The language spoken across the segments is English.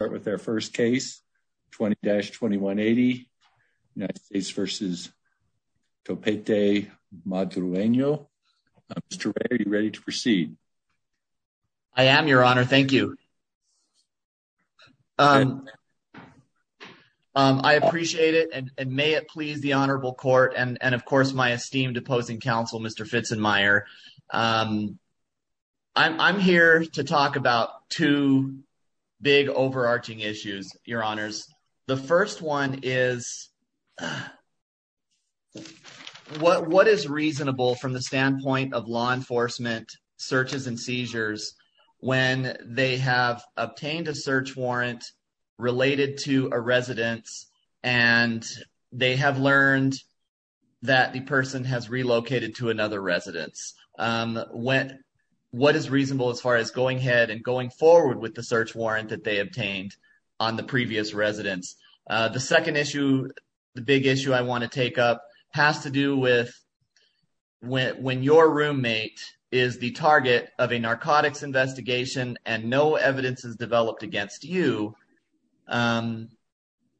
I am your honor. Thank you. I appreciate it and may it please the honorable court and of course my esteemed opposing counsel Mr. Fitz and Meyer. I'm here to talk about two big overarching issues your honors. The first one is what is reasonable from the standpoint of law enforcement searches and seizures when they have obtained a search warrant related to a residence and they have learned that the person has relocated to another residence. When what is reasonable as far as going ahead and going forward with the search warrant that they obtained on the previous residence. The second issue the big issue I want to take up has to do with when your roommate is the target of a narcotics investigation and no evidence is developed against you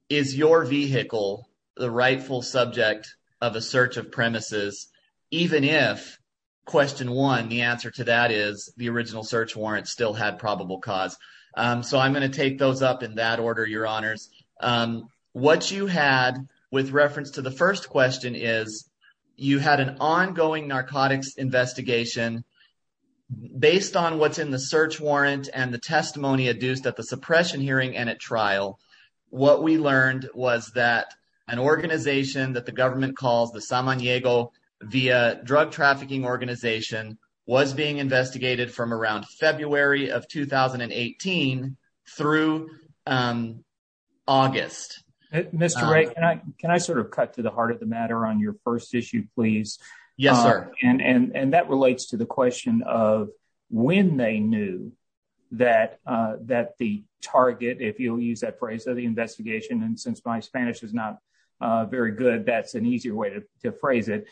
is your vehicle the rightful subject of a search of premises even if question one the answer to that is the original search warrant still had probable cause. So I'm going to take those up in that order your honors. What you had with reference to the first question is you had an ongoing narcotics investigation based on what's in the search warrant and the testimony adduced at the suppression hearing and at trial. What we learned was that an was being investigated from around February of 2018 through August. Mr. Ray can I sort of cut to the heart of the matter on your first issue please? Yes sir. And that relates to the question of when they knew that the target if you'll use that phrase of the investigation and since my Spanish is not very good that's an easier way to phrase it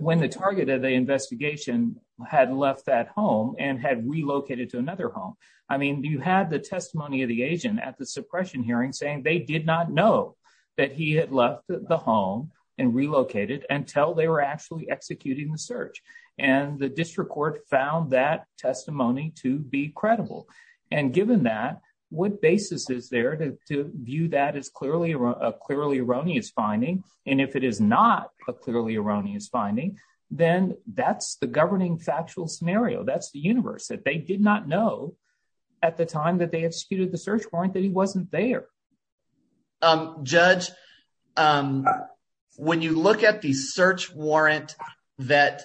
when the target of the investigation had left that home and had relocated to another home. I mean you had the testimony of the agent at the suppression hearing saying they did not know that he had left the home and relocated until they were actually executing the search. And the district court found that testimony to be credible and given that what basis is there to view that as clearly a clearly erroneous finding and if it is not a clearly erroneous finding then that's the governing factual scenario that's the universe that they did not know at the time that they executed the search warrant that he wasn't there. Judge when you look at the search warrant that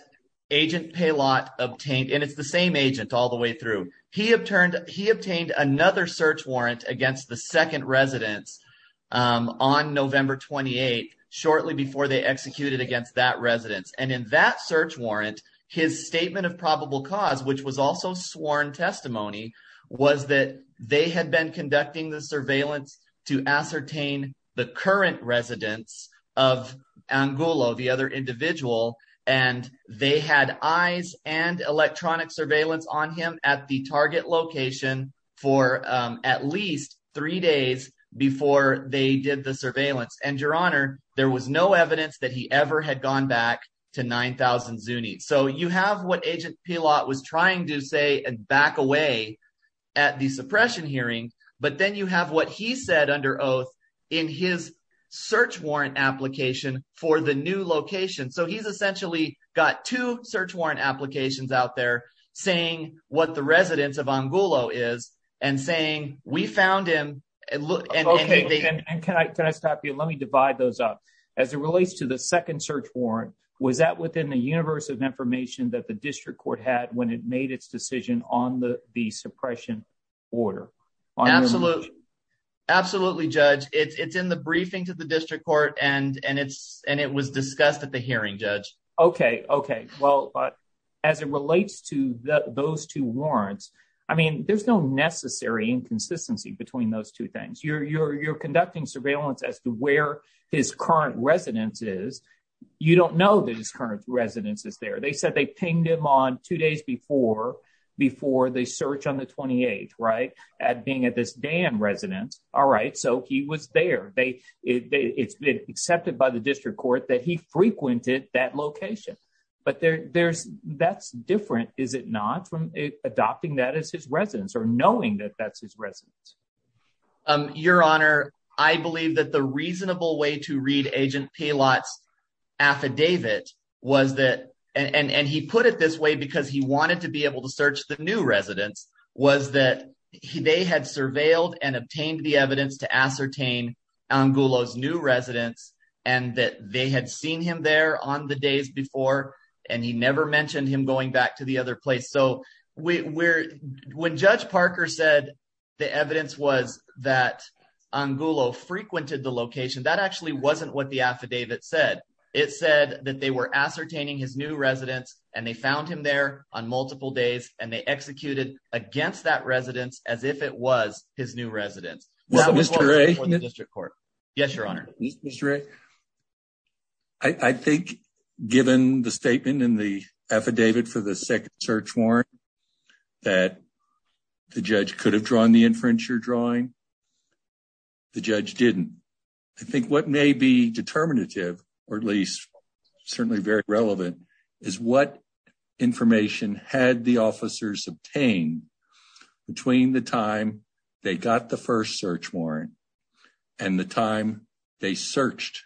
agent Paylott obtained and it's the same agent all the way through he obtained another search warrant against the second residence on November 28 shortly before they executed against that residence and in that search warrant his statement of probable cause which was also sworn testimony was that they had been conducting the surveillance to ascertain the current residence of Angulo the other individual and they had eyes and electronic surveillance on him at the target location for at least three days before they did the surveillance and your honor there was no evidence that he ever had gone back to 9000 Zuni. So you have what agent Paylott was trying to say and back away at the suppression hearing but then you have what he said under oath in his search warrant application for the location so he's essentially got two search warrant applications out there saying what the residence of Angulo is and saying we found him and look and can I can I stop you let me divide those up as it relates to the second search warrant was that within the universe of information that the district court had when it made its decision on the the suppression order. Absolutely absolutely judge it's it's in the briefing to the district court and and it's and it was discussed at the hearing judge. Okay okay well as it relates to those two warrants I mean there's no necessary inconsistency between those two things you're you're you're conducting surveillance as to where his current residence is you don't know that his current residence is they said they pinged him on two days before before they search on the 28th right at being at this dam residence all right so he was there they it's been accepted by the district court that he frequented that location but there there's that's different is it not from adopting that as his residence or knowing that that's his residence. Your honor I believe that the and he put it this way because he wanted to be able to search the new residence was that they had surveilled and obtained the evidence to ascertain Angulo's new residence and that they had seen him there on the days before and he never mentioned him going back to the other place so we're when judge Parker said the evidence was that Angulo frequented the location that actually wasn't what the affidavit said it said that they were ascertaining his new residence and they found him there on multiple days and they executed against that residence as if it was his new residence. Mr. A? Yes your honor. Mr. A? I think given the statement in the affidavit for the second search warrant that the judge could have drawn the inference you're drawing the judge didn't. I think what may be determinative or at least certainly very relevant is what information had the officers obtained between the time they got the first search warrant and the time they searched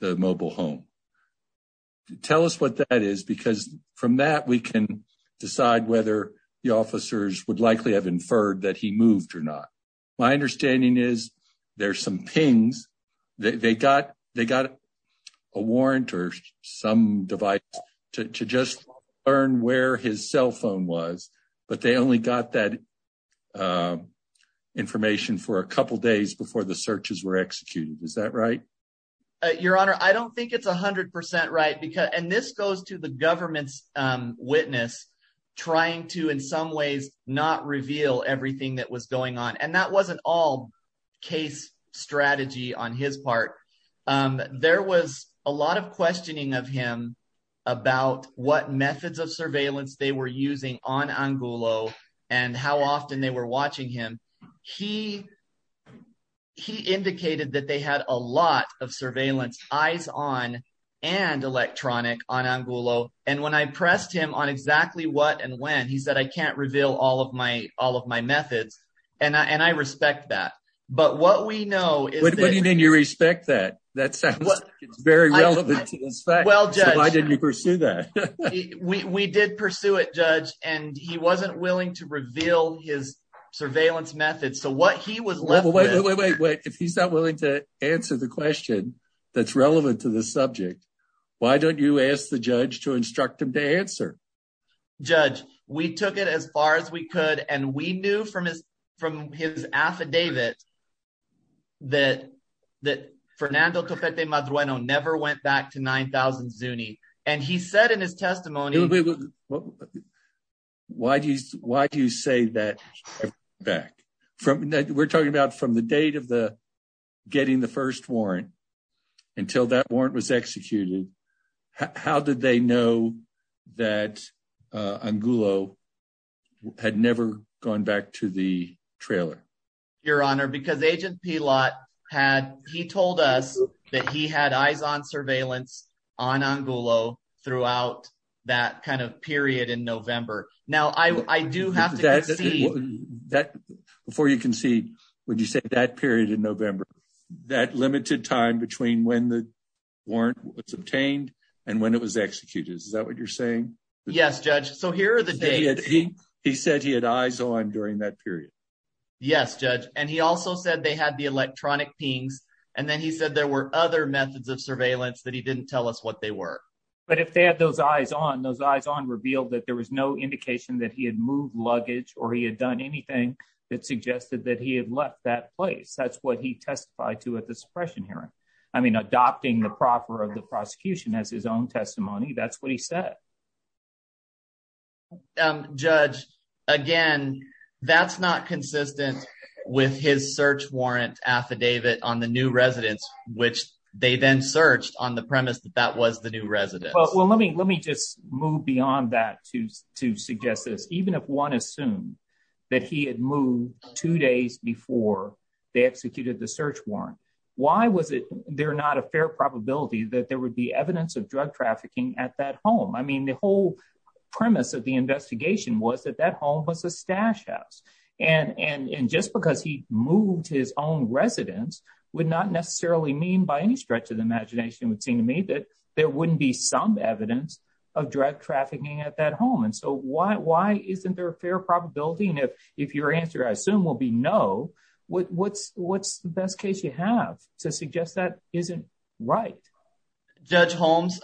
the mobile home. Tell us what that is because from that we can decide whether the officers would likely have inferred that he moved or not. My understanding is there's some pings they got they got a warrant or some device to just learn where his cell phone was but they only got that information for a couple days before the searches were executed. Is that right? Your honor I don't think it's a hundred percent right because and this goes to the government's witness trying to in some ways not reveal everything that was going on and that wasn't all case strategy on his part. There was a lot of questioning of him about what methods of surveillance they were using on Angulo and how often they were watching him. He indicated that they had a lot of surveillance eyes on and electronic on Angulo and when I pressed him on exactly what and when he said I can't reveal all of my methods and I respect that. What do you mean you respect that? That sounds like it's very relevant to this fact. Why didn't you pursue that? We did pursue it judge and he wasn't willing to reveal his surveillance methods so what he was left with... Wait wait wait if he's not willing to answer the question that's relevant to this subject why don't you ask the and we knew from his affidavit that that Fernando Topete Madrueno never went back to 9000 Zuni and he said in his testimony... Why do you say that? We're talking about from the date of the getting the first warrant until that warrant was executed how did they know that Angulo had never gone back to the trailer? Your honor because agent Pilot had he told us that he had eyes on surveillance on Angulo throughout that kind of period in November. Now I do have to see... Before you concede would you say that period in November that limited time between when the warrant was obtained and when it was executed is that what you're saying? Yes judge so here are the days... He said he had eyes on during that period. Yes judge and he also said they had the electronic pings and then he said there were other methods of surveillance that he didn't tell us what they were. But if they had those eyes on those eyes on revealed that there was no indication that he had moved luggage or he had done anything that suggested that he had left that place that's what he testified to at the suppression hearing. I mean adopting the proffer of the prosecution as his own testimony that's what he said. Judge again that's not consistent with his search warrant affidavit on the new residence which they then searched on the premise that that was the new residence. Well let me let me just move beyond that to to suggest this even if one assumed that he had moved two days before they executed the search warrant why was it they're not a fair probability that there would be evidence of drug trafficking at that home? I mean the whole premise of the investigation was that that home was a stash house and just because he moved his own residence would not necessarily mean by any stretch of the imagination would seem to me that there wouldn't be some evidence of drug trafficking at that home and so why why isn't there a fair probability and if if your answer I assume will be no what's what's the best case you have to suggest that isn't right? Judge Holmes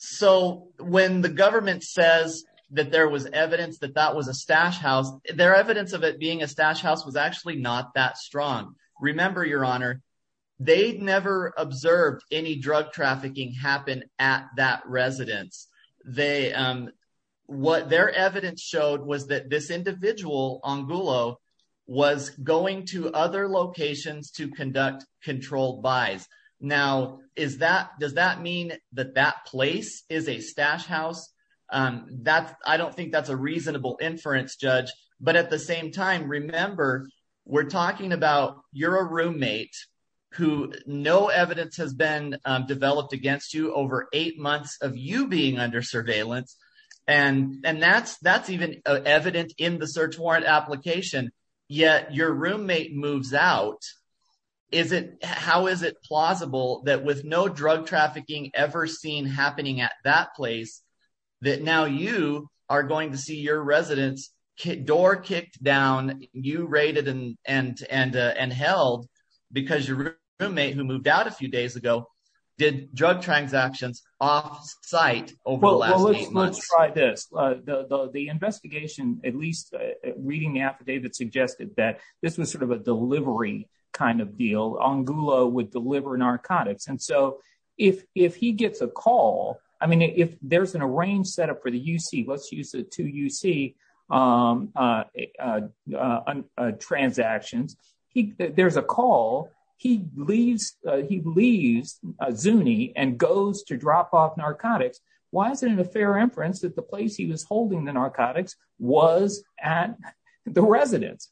so when the government says that there was evidence that that was a stash house their evidence of it being a stash house was actually not that strong. Remember your honor they never observed any drug trafficking happen at that residence. What their evidence showed was that this individual Angulo was going to other locations to conduct controlled buys. Now is that does that mean that that place is a stash house? I don't think that's a reasonable inference judge but at the same time remember we're talking about you're a roommate who no evidence has been developed against you over eight months of you being under surveillance and and that's that's even evident in the search warrant application yet your roommate moves out. How is it plausible that with no drug trafficking ever seen happening at that place that now you are going to see your residence door kicked down you raided and held because your roommate who moved out a few days ago did drug transactions off-site over the last eight months? Let's try this the investigation at least reading the affidavit suggested that this was sort of a delivery kind of deal. Angulo would deliver narcotics and so if he gets a call I mean if there's an arranged setup for the UC let's use the two UC transactions he there's a call he leaves he leaves Zuni and goes to drop off narcotics why isn't it a fair inference that the place he was holding the narcotics was at the residence?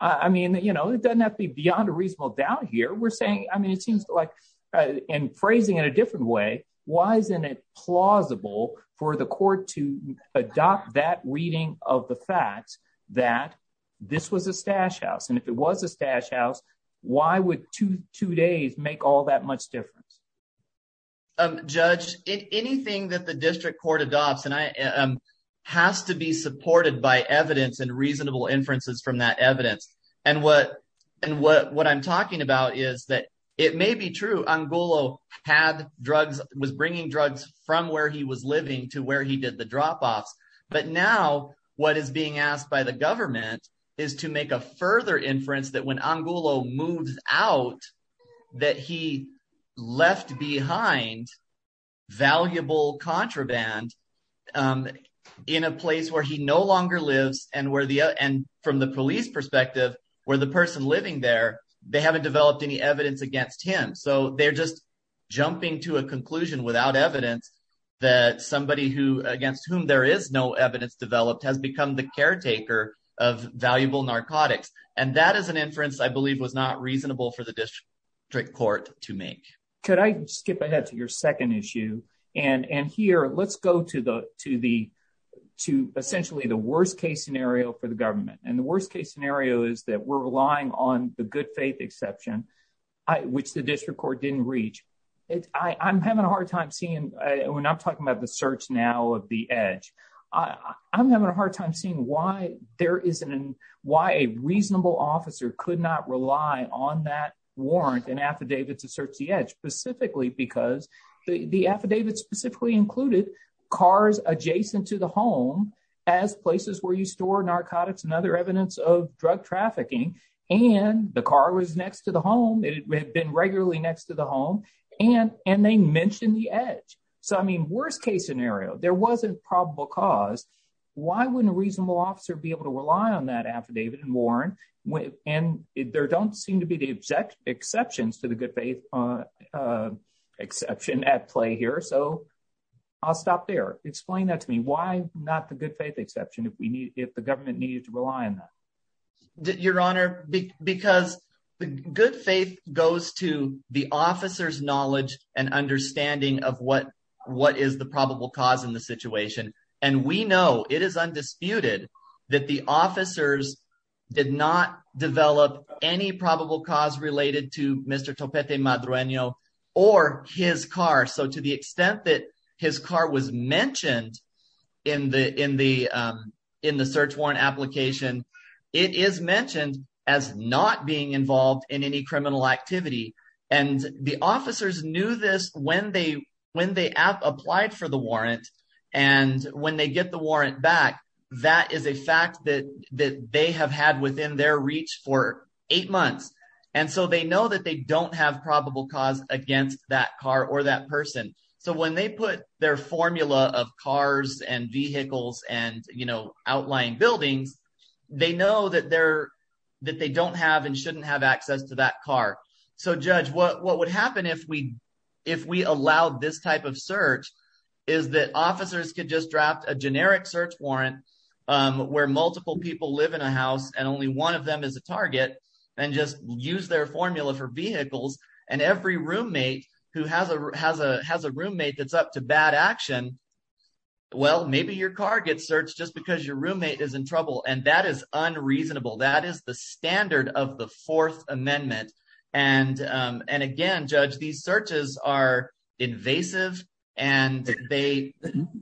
I mean you know it doesn't have to be beyond a reasonable doubt here we're saying I mean it seems like and phrasing in a different way why isn't it plausible for the adopt that reading of the facts that this was a stash house and if it was a stash house why would two two days make all that much difference? Judge anything that the district court adopts and I um has to be supported by evidence and reasonable inferences from that evidence and what and what what I'm talking about is that it may be true Angulo had drugs was drop offs but now what is being asked by the government is to make a further inference that when Angulo moves out that he left behind valuable contraband um in a place where he no longer lives and where the and from the police perspective where the person living there they haven't developed any evidence against him so they're just jumping to a conclusion without evidence that somebody who against whom there is no evidence developed has become the caretaker of valuable narcotics and that is an inference I believe was not reasonable for the district court to make. Could I skip ahead to your second issue and and here let's go to the to the to essentially the worst case scenario for the government and the worst case scenario is that we're relying on the good faith exception I which the district court didn't reach it I I'm having a when I'm talking about the search now of the edge I I'm having a hard time seeing why there isn't an why a reasonable officer could not rely on that warrant and affidavit to search the edge specifically because the the affidavit specifically included cars adjacent to the home as places where you store narcotics and other evidence of drug trafficking and the car was next to the home it had been regularly next to the home and and they mentioned the edge so I mean worst case scenario there wasn't probable cause why wouldn't a reasonable officer be able to rely on that affidavit and warrant when and there don't seem to be the exact exceptions to the good faith uh exception at play here so I'll stop there explain that to me why not the good faith exception if we need if the government needed to rely on that your honor because the good faith goes to the officer's knowledge and understanding of what what is the probable cause in the situation and we know it is undisputed that the officers did not develop any probable cause related to Mr. Topete Madronio or his car so to the extent that his car was mentioned in the in the um in the and the officers knew this when they when they applied for the warrant and when they get the warrant back that is a fact that that they have had within their reach for eight months and so they know that they don't have probable cause against that car or that person so when they put their formula of cars and vehicles and you know outlying buildings they know that they're that have access to that car so judge what what would happen if we if we allowed this type of search is that officers could just draft a generic search warrant um where multiple people live in a house and only one of them is a target and just use their formula for vehicles and every roommate who has a has a has a roommate that's up to bad action well maybe your car gets searched just your roommate is in trouble and that is unreasonable that is the standard of the fourth amendment and um and again judge these searches are invasive and they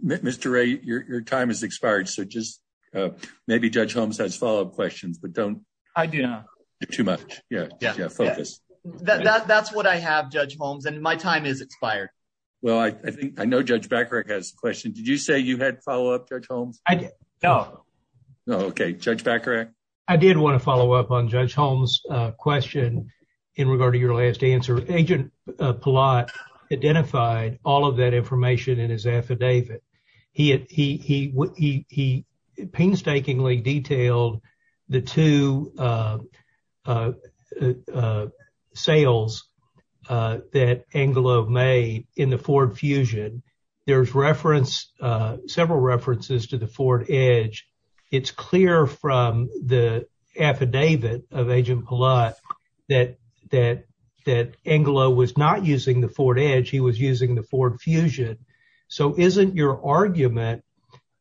mr ray your time has expired so just uh maybe judge homes has follow-up questions but don't i do not do too much yeah yeah focus that that's what i have judge homes and my time is expired well i i think i know judge backer has a question did you say you had follow-up judge homes i did no no okay judge backer i did want to follow up on judge holmes uh question in regard to your last answer agent palat identified all of that information in his affidavit he he he he he painstakingly detailed the two uh uh uh sales uh that angelo made in the ford fusion there's reference uh several references to the ford edge it's clear from the affidavit of agent palat that that that angelo was not using the ford edge he was using the ford fusion so isn't your argument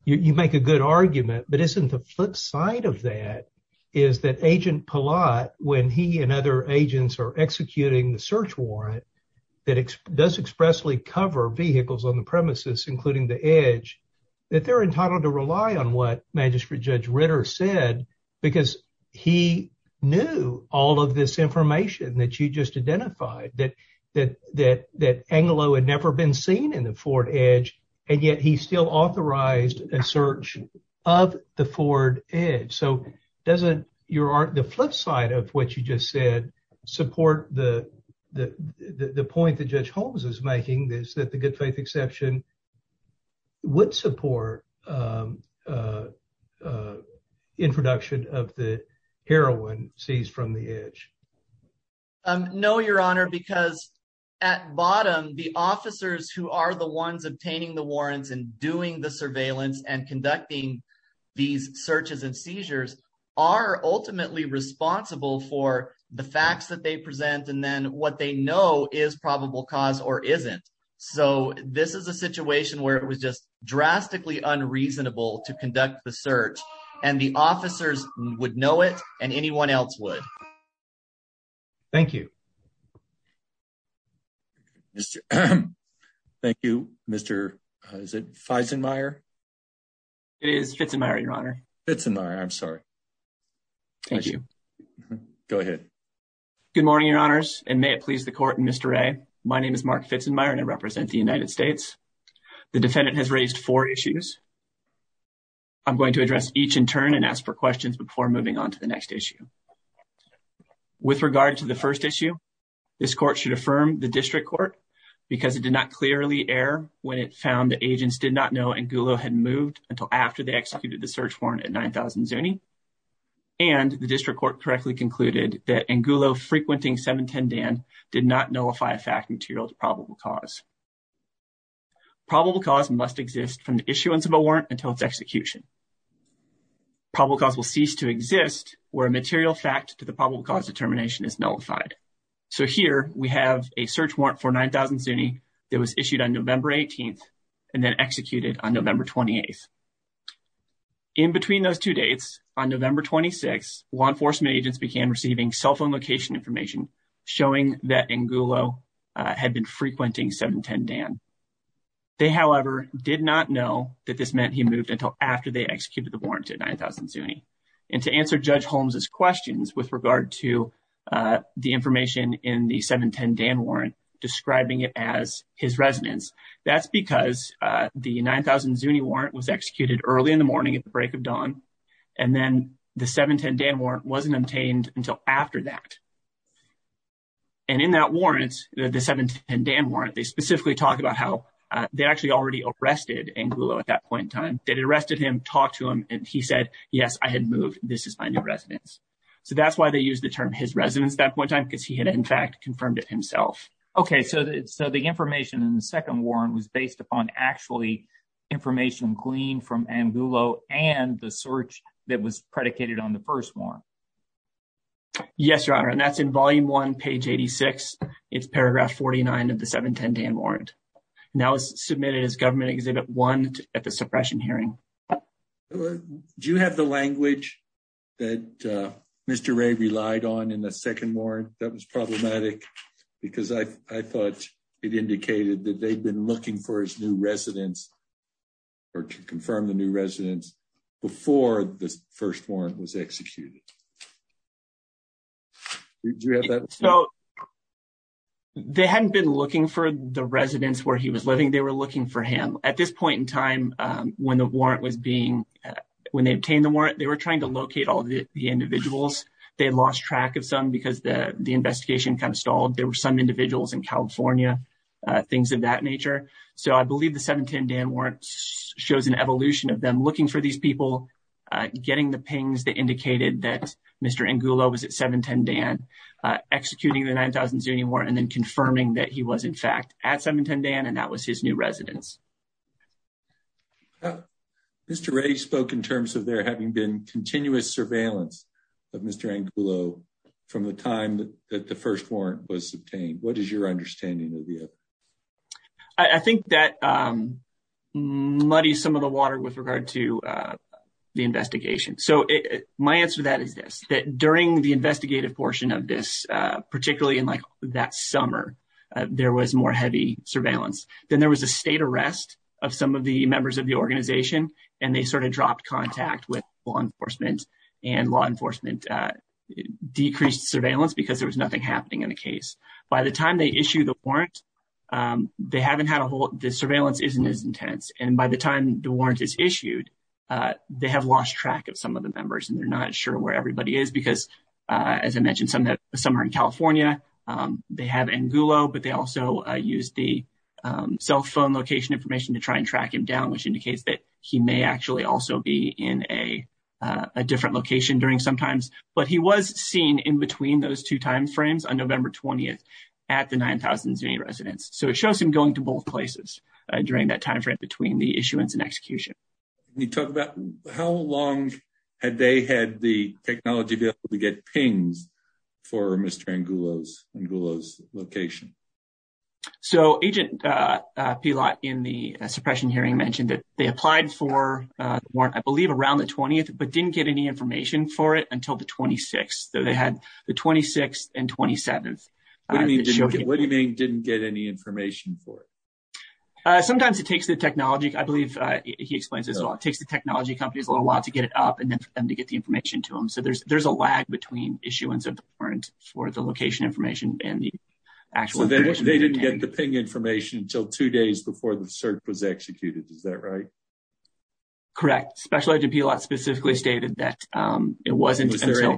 you make a good argument but isn't the flip side of that is that agent palat when he and other agents are executing the search warrant that does expressly cover vehicles on the premises including the edge that they're entitled to rely on what magistrate judge ritter said because he knew all of this information that you just identified that that that that angelo had never been seen in the ford edge and yet he still authorized a search of the ford edge so doesn't your art the flip side of what you just said support the the the point that judge holmes is making this that the good faith exception would support um uh uh introduction of the heroin seized from the edge um no your honor because at bottom the officers who are the ones obtaining the warrants and doing the surveillance and conducting these searches and seizures are ultimately responsible for the facts that they present and then what they know is probable cause or isn't so this is a situation where it was just drastically unreasonable to conduct the search and the officers would know it and anyone else would thank you mr thank you mr is it feisenmayer it is fits in my honor fits in my i'm sorry thank you go ahead good morning your honors and may it please the court and mr ray my name is mark fitzenmayer and i represent the united states the defendant has raised four issues i'm going to address each in turn and ask for questions before moving on to the next issue with regard to the first issue this court should affirm the district court because it did not clearly err when it found the agents did not know angulo had moved until after they executed the search warrant at 9 000 zuni and the district court correctly concluded that angulo frequenting 710 dan did not nullify a fact material to probable cause probable cause must exist from the issuance of a warrant until its execution probable cause will cease to exist where a material fact to the probable cause determination is nullified so here we have a search warrant for 9 000 zuni that was issued on november 18th and then executed on november 28th in between those two dates on november 26 law enforcement agents began receiving cell phone location information showing that angulo had been frequenting 710 dan they however did not know that this meant he moved until after they executed the warrant at 9 000 zuni and to answer judge holmes's questions with regard to the information in the dan warrant describing it as his residence that's because the 9 000 zuni warrant was executed early in the morning at the break of dawn and then the 710 dan warrant wasn't obtained until after that and in that warrant the 710 dan warrant they specifically talk about how they actually already arrested angulo at that point in time they arrested him talked to him and he said yes i had moved this is my new residence so that's why they used the term his residence that one time because he had in fact confirmed it himself okay so so the information in the second warrant was based upon actually information gleaned from angulo and the search that was predicated on the first one yes your honor and that's in volume one page 86 it's paragraph 49 of the 710 dan warrant now is submitted as government exhibit one at the suppression hearing well do you have the language that uh mr ray relied on in the second warrant that was problematic because i i thought it indicated that they'd been looking for his new residence or to confirm the new residence before the first warrant was executed do you have that so they hadn't been looking for the residence where he was living they were looking for him at this point in time when the warrant was being when they obtained the warrant they were trying to locate all the individuals they lost track of some because the the investigation kind of stalled there were some individuals in california uh things of that nature so i believe the 710 dan warrant shows an evolution of them looking for these people uh getting the pings that indicated that mr angulo was at 710 dan uh executing the 9000 zuni war and then confirming that he was in fact at 710 dan and that was his new residence mr ray spoke in terms of there having been continuous surveillance of mr angulo from the time that the first warrant was obtained what is your understanding of the other i think that um muddies some of the water with regard to uh the investigation so it my answer to that is this during the investigative portion of this uh particularly in like that summer there was more heavy surveillance then there was a state arrest of some of the members of the organization and they sort of dropped contact with law enforcement and law enforcement uh decreased surveillance because there was nothing happening in the case by the time they issue the warrant um they haven't had a whole the surveillance isn't as intense and by the time the warrant is issued uh they have lost track of some of the members and they're not sure where everybody is because uh as i mentioned some that somewhere in california um they have angulo but they also use the um cell phone location information to try and track him down which indicates that he may actually also be in a a different location during some times but he was seen in between those two time frames on november 20th at the 9000 zuni residence so it shows him going to both places during that time between the issuance and execution you talk about how long had they had the technology to be able to get pings for mr angulo's angulo's location so agent uh pilat in the suppression hearing mentioned that they applied for uh the warrant i believe around the 20th but didn't get any information for it until the 26th so they had the 26th and 27th what do you mean didn't get any information for it uh sometimes it takes the technology i believe uh he explains as well it takes the technology companies a little while to get it up and then for them to get the information to them so there's there's a lag between issuance of the warrant for the location information and the actual they didn't get the ping information until two days before the search was executed is that right correct special agent pilat specifically stated that um it wasn't until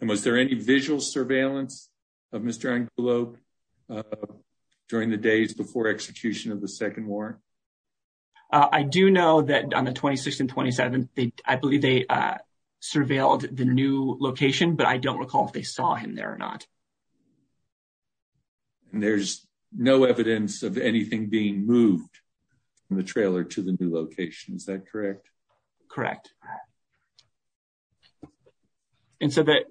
and was there any visual surveillance of mr angulo during the days before execution of the second war i do know that on the 26th and 27th they i believe they uh surveilled the new location but i don't recall if they saw him there or not and there's no evidence of anything being moved from the trailer to the new location is that correct correct and so that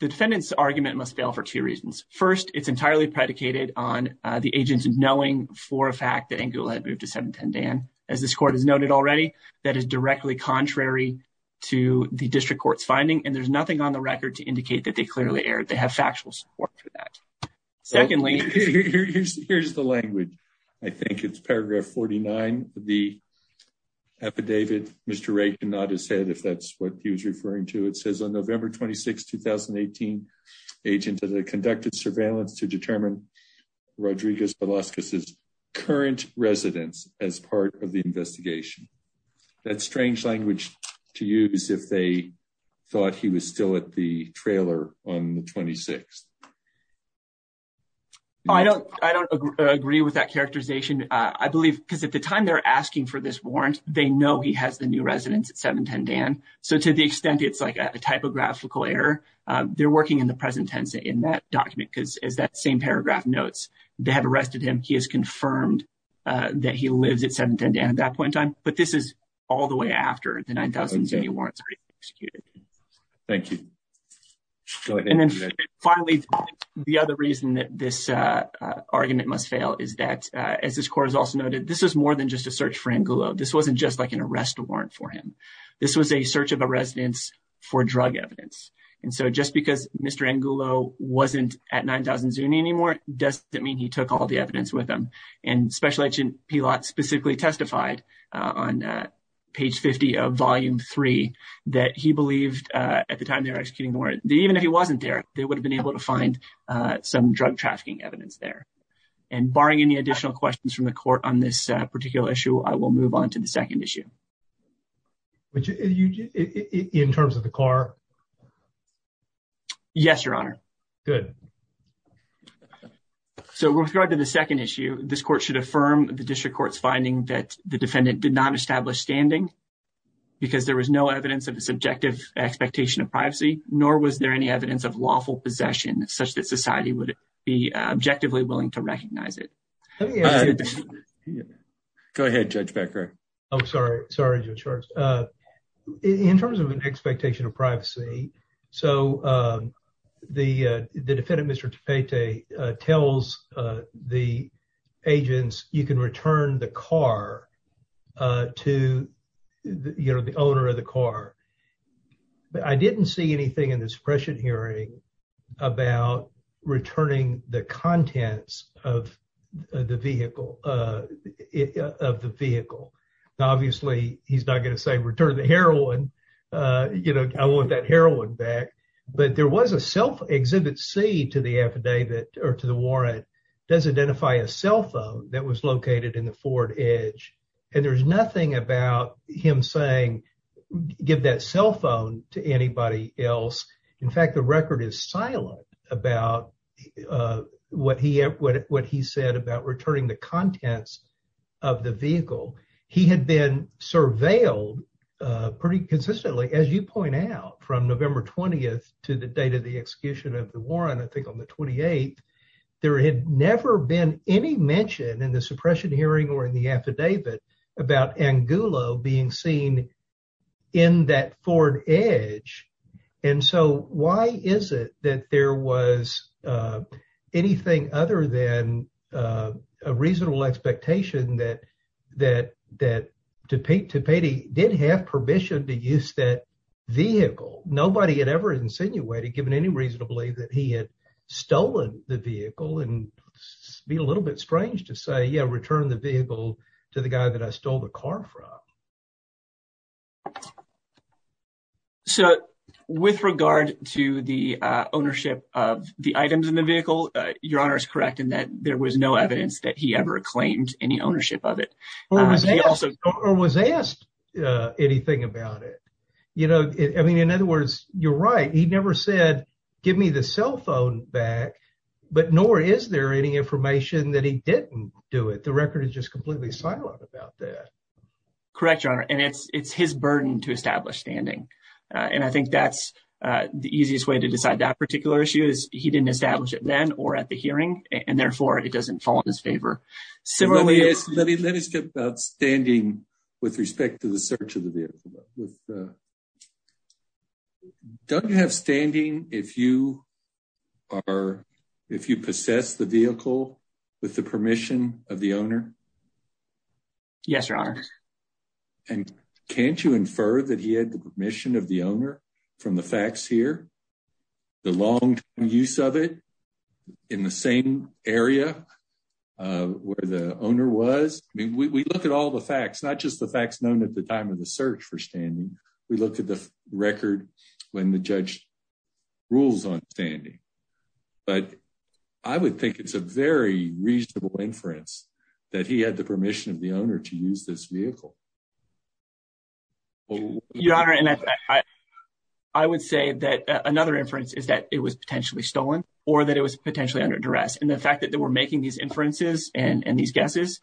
the defendant's argument must fail for two reasons first it's entirely predicated on the agents knowing for a fact that angle had moved to 710 dan as this court has noted already that is directly contrary to the district court's finding and there's nothing on the record to indicate that they clearly aired they have factual support for that secondly here's the language i think it's paragraph 49 the affidavit mr ray cannot have said if that's what he was referring to it says on november 26 2018 agent that i conducted surveillance to determine rodriguez velasquez's current residence as part of the investigation that's strange language to use if they thought he was still at the trailer on the 26th i don't i don't agree with that characterization i believe because at the time they're asking for this warrant they know he has the new residence at 710 dan so to the extent it's like a typographical error they're working in the present tense in that document because as that same paragraph notes they have arrested him he has confirmed uh that he lives at 710 dan at that point in time but this is all the way after the 9 000 warrants are executed thank you and then finally the other reason that this uh argument must fail is that as this court has also noted this is more than just a search for angulo this wasn't just like an arrest warrant for him this was a search of a residence for drug evidence and so just because mr angulo wasn't at 9 000 anymore doesn't mean he took all the evidence with him and special agent pilat specifically testified on page 50 of volume 3 that he believed uh at the time they were executing the warrant even if he wasn't there they would have been able to find uh some drug trafficking evidence there and barring any additional questions from the court on this particular issue i will move on to the second issue which you in terms of the car yes your honor good so with regard to the second issue this court should affirm the district court's finding that the defendant did not establish standing because there was no evidence of a subjective expectation of privacy nor was there any evidence of lawful possession such that society would be objectively willing to recognize it go ahead judge becker i'm sorry sorry judge uh in terms of an expectation of privacy so um the uh the defendant mr tapete uh tells uh the agents you can return the car uh to you know the owner of the car but i didn't see anything in this prescient hearing about returning the contents of the vehicle uh of the vehicle obviously he's not going to say return the heroin uh you know i want that heroin back but there was a self exhibit c to the affidavit or to the warrant does identify a cell phone that was located in the ford edge and there's nothing about him saying give that cell phone to anybody else in fact the record is silent about uh what he what what he said about returning the contents of the vehicle he had been surveilled uh pretty consistently as you point out from november 20th to the date of the execution of the warrant i think on the 28th there had never been any mention in the suppression hearing or in the affidavit about angulo being seen in that ford edge and so why is it that there was uh anything other than uh a reasonable expectation that that that tapete tapete did have permission to use that vehicle nobody had ever insinuated given any reason to believe that he had stolen the vehicle and be a little bit strange to say yeah return the vehicle to the guy that i stole the car from so with regard to the uh ownership of the items in the vehicle uh your honor is correct in that there was no evidence that he ever claimed any ownership of it or was he also or was asked uh anything about it you know i mean in other words you're right he never said give me the cell phone back but nor is there any information that he didn't do it the record is just completely silent about that correct your honor and it's it's his burden to establish standing and i think that's uh the easiest way to decide that particular issue is he didn't establish it then or at the hearing and therefore it doesn't fall in his favor similarly let me let us talk about standing with respect to the search of the vehicle with uh don't have standing if you are if you possess the vehicle with the permission of the owner yes your honor and can't you infer that he had the permission of the owner from the facts here the long use of it in the same area uh where the owner was i mean we look at all the facts not just the facts known at time of the search for standing we looked at the record when the judge rules on standing but i would think it's a very reasonable inference that he had the permission of the owner to use this vehicle your honor and i i would say that another inference is that it was potentially stolen or that it was potentially under duress and the fact that they were making these inferences and and these guesses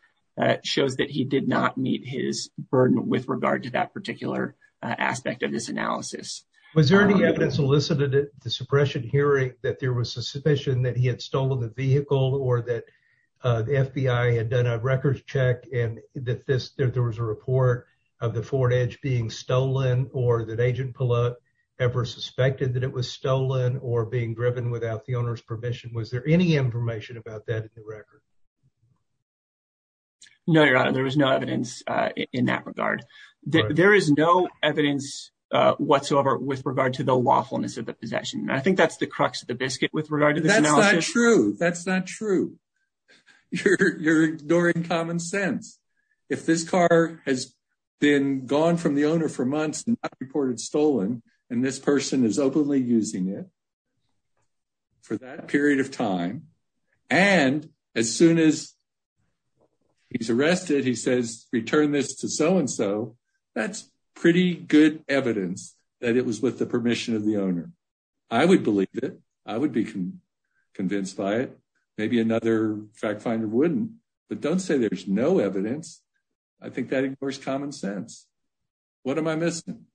shows that he did not meet his burden with regard to that particular aspect of this analysis was there any evidence elicited at the suppression hearing that there was suspicion that he had stolen the vehicle or that the fbi had done a records check and that this there was a report of the ford edge being stolen or that agent pullout ever suspected that it was stolen or being driven without the owner's permission was there any information about that in the record no your honor there was no evidence uh in that regard there is no evidence whatsoever with regard to the lawfulness of the possession i think that's the crux of the biscuit with regard to that's not true that's not true you're you're ignoring common sense if this car has been gone from the owner for months and reported stolen and this person is openly using it for that period of time and as soon as he's arrested he says return this to so and so that's pretty good evidence that it was with the permission of the owner i would believe it i would be convinced by it maybe another fact finder wouldn't but don't say there's no evidence i think that ignores common sense what am i missing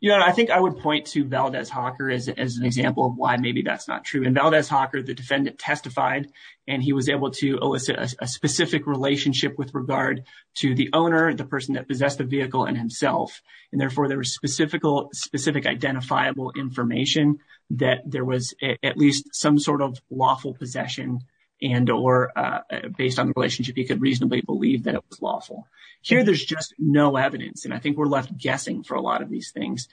you know i think i would point to valdez hawker as an example of why maybe that's not true and valdez hawker the defendant testified and he was able to elicit a specific relationship with regard to the owner the person that possessed the vehicle and himself and therefore there was specifical specific identifiable information that there was at least some sort of lawful possession and or uh based on the relationship he could reasonably believe that it was lawful here there's just no evidence and i think we're left guessing for a lot of these things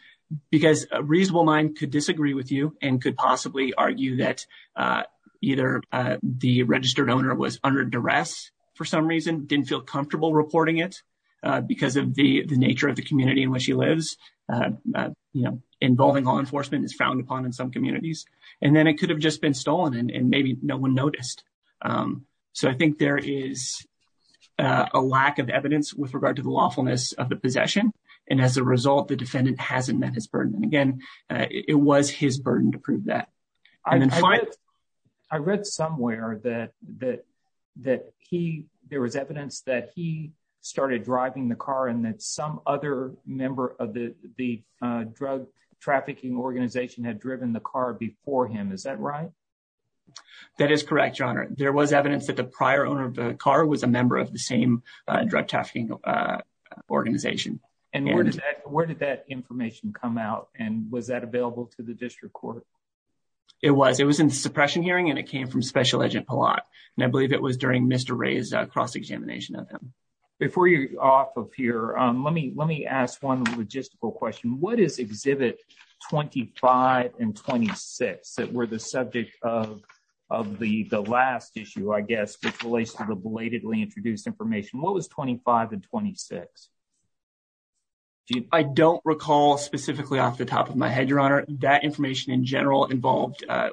because a reasonable mind could disagree with you and could possibly argue that uh either uh the registered owner was under duress for some reason didn't feel comfortable reporting it uh because of the the nature of the community in which he lives uh you know involving law enforcement is frowned upon in some communities and then it could have just been stolen and maybe no one noticed um so i think there is a lack of evidence with regard to the lawfulness of the possession and as a result the defendant hasn't met his burden and again it was his burden to prove that i'm in flight i read somewhere that that that he there was evidence that he started driving the car and that some other member of the the uh drug trafficking organization had driven the car before him is that right that is correct your honor there was evidence that the prior owner of the car was a member of the same uh drug trafficking uh organization and where did that where did that information come out and was that available to the district court it was it was in the suppression hearing and it came from special agent pollack and i believe it was during mr ray's cross-examination of him before you're off of here um let me let me ask one logistical question what is exhibit 25 and 26 that were the subject of of the the last issue i guess which relates to the belatedly introduced information what was 25 and 26 i don't recall specifically off the top of my head your honor that information in general involved uh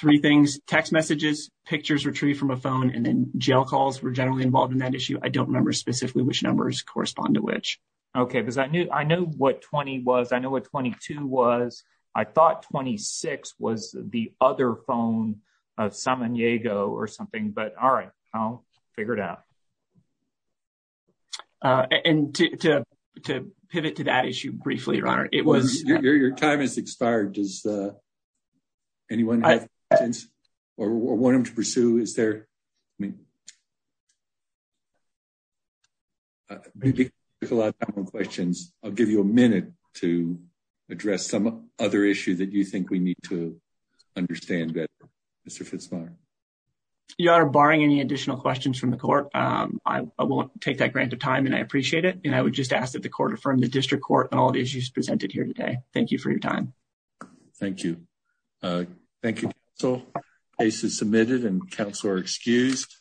three things text messages pictures retrieved from a phone and then jail calls were generally involved in that issue i don't remember specifically which numbers correspond to which okay because i knew i knew what 20 was i know what 22 was i thought 26 was the other phone of samaniego or something but all right i'll figure it out uh and to to pivot to that issue briefly your honor it was your time has expired does uh anyone have questions or want them to questions i'll give you a minute to address some other issue that you think we need to understand better mr fitzpaher your honor barring any additional questions from the court um i won't take that grant of time and i appreciate it and i would just ask that the court affirm the district court and all the issues presented here today thank you for your time thank you uh thank you so case is submitted and council are excused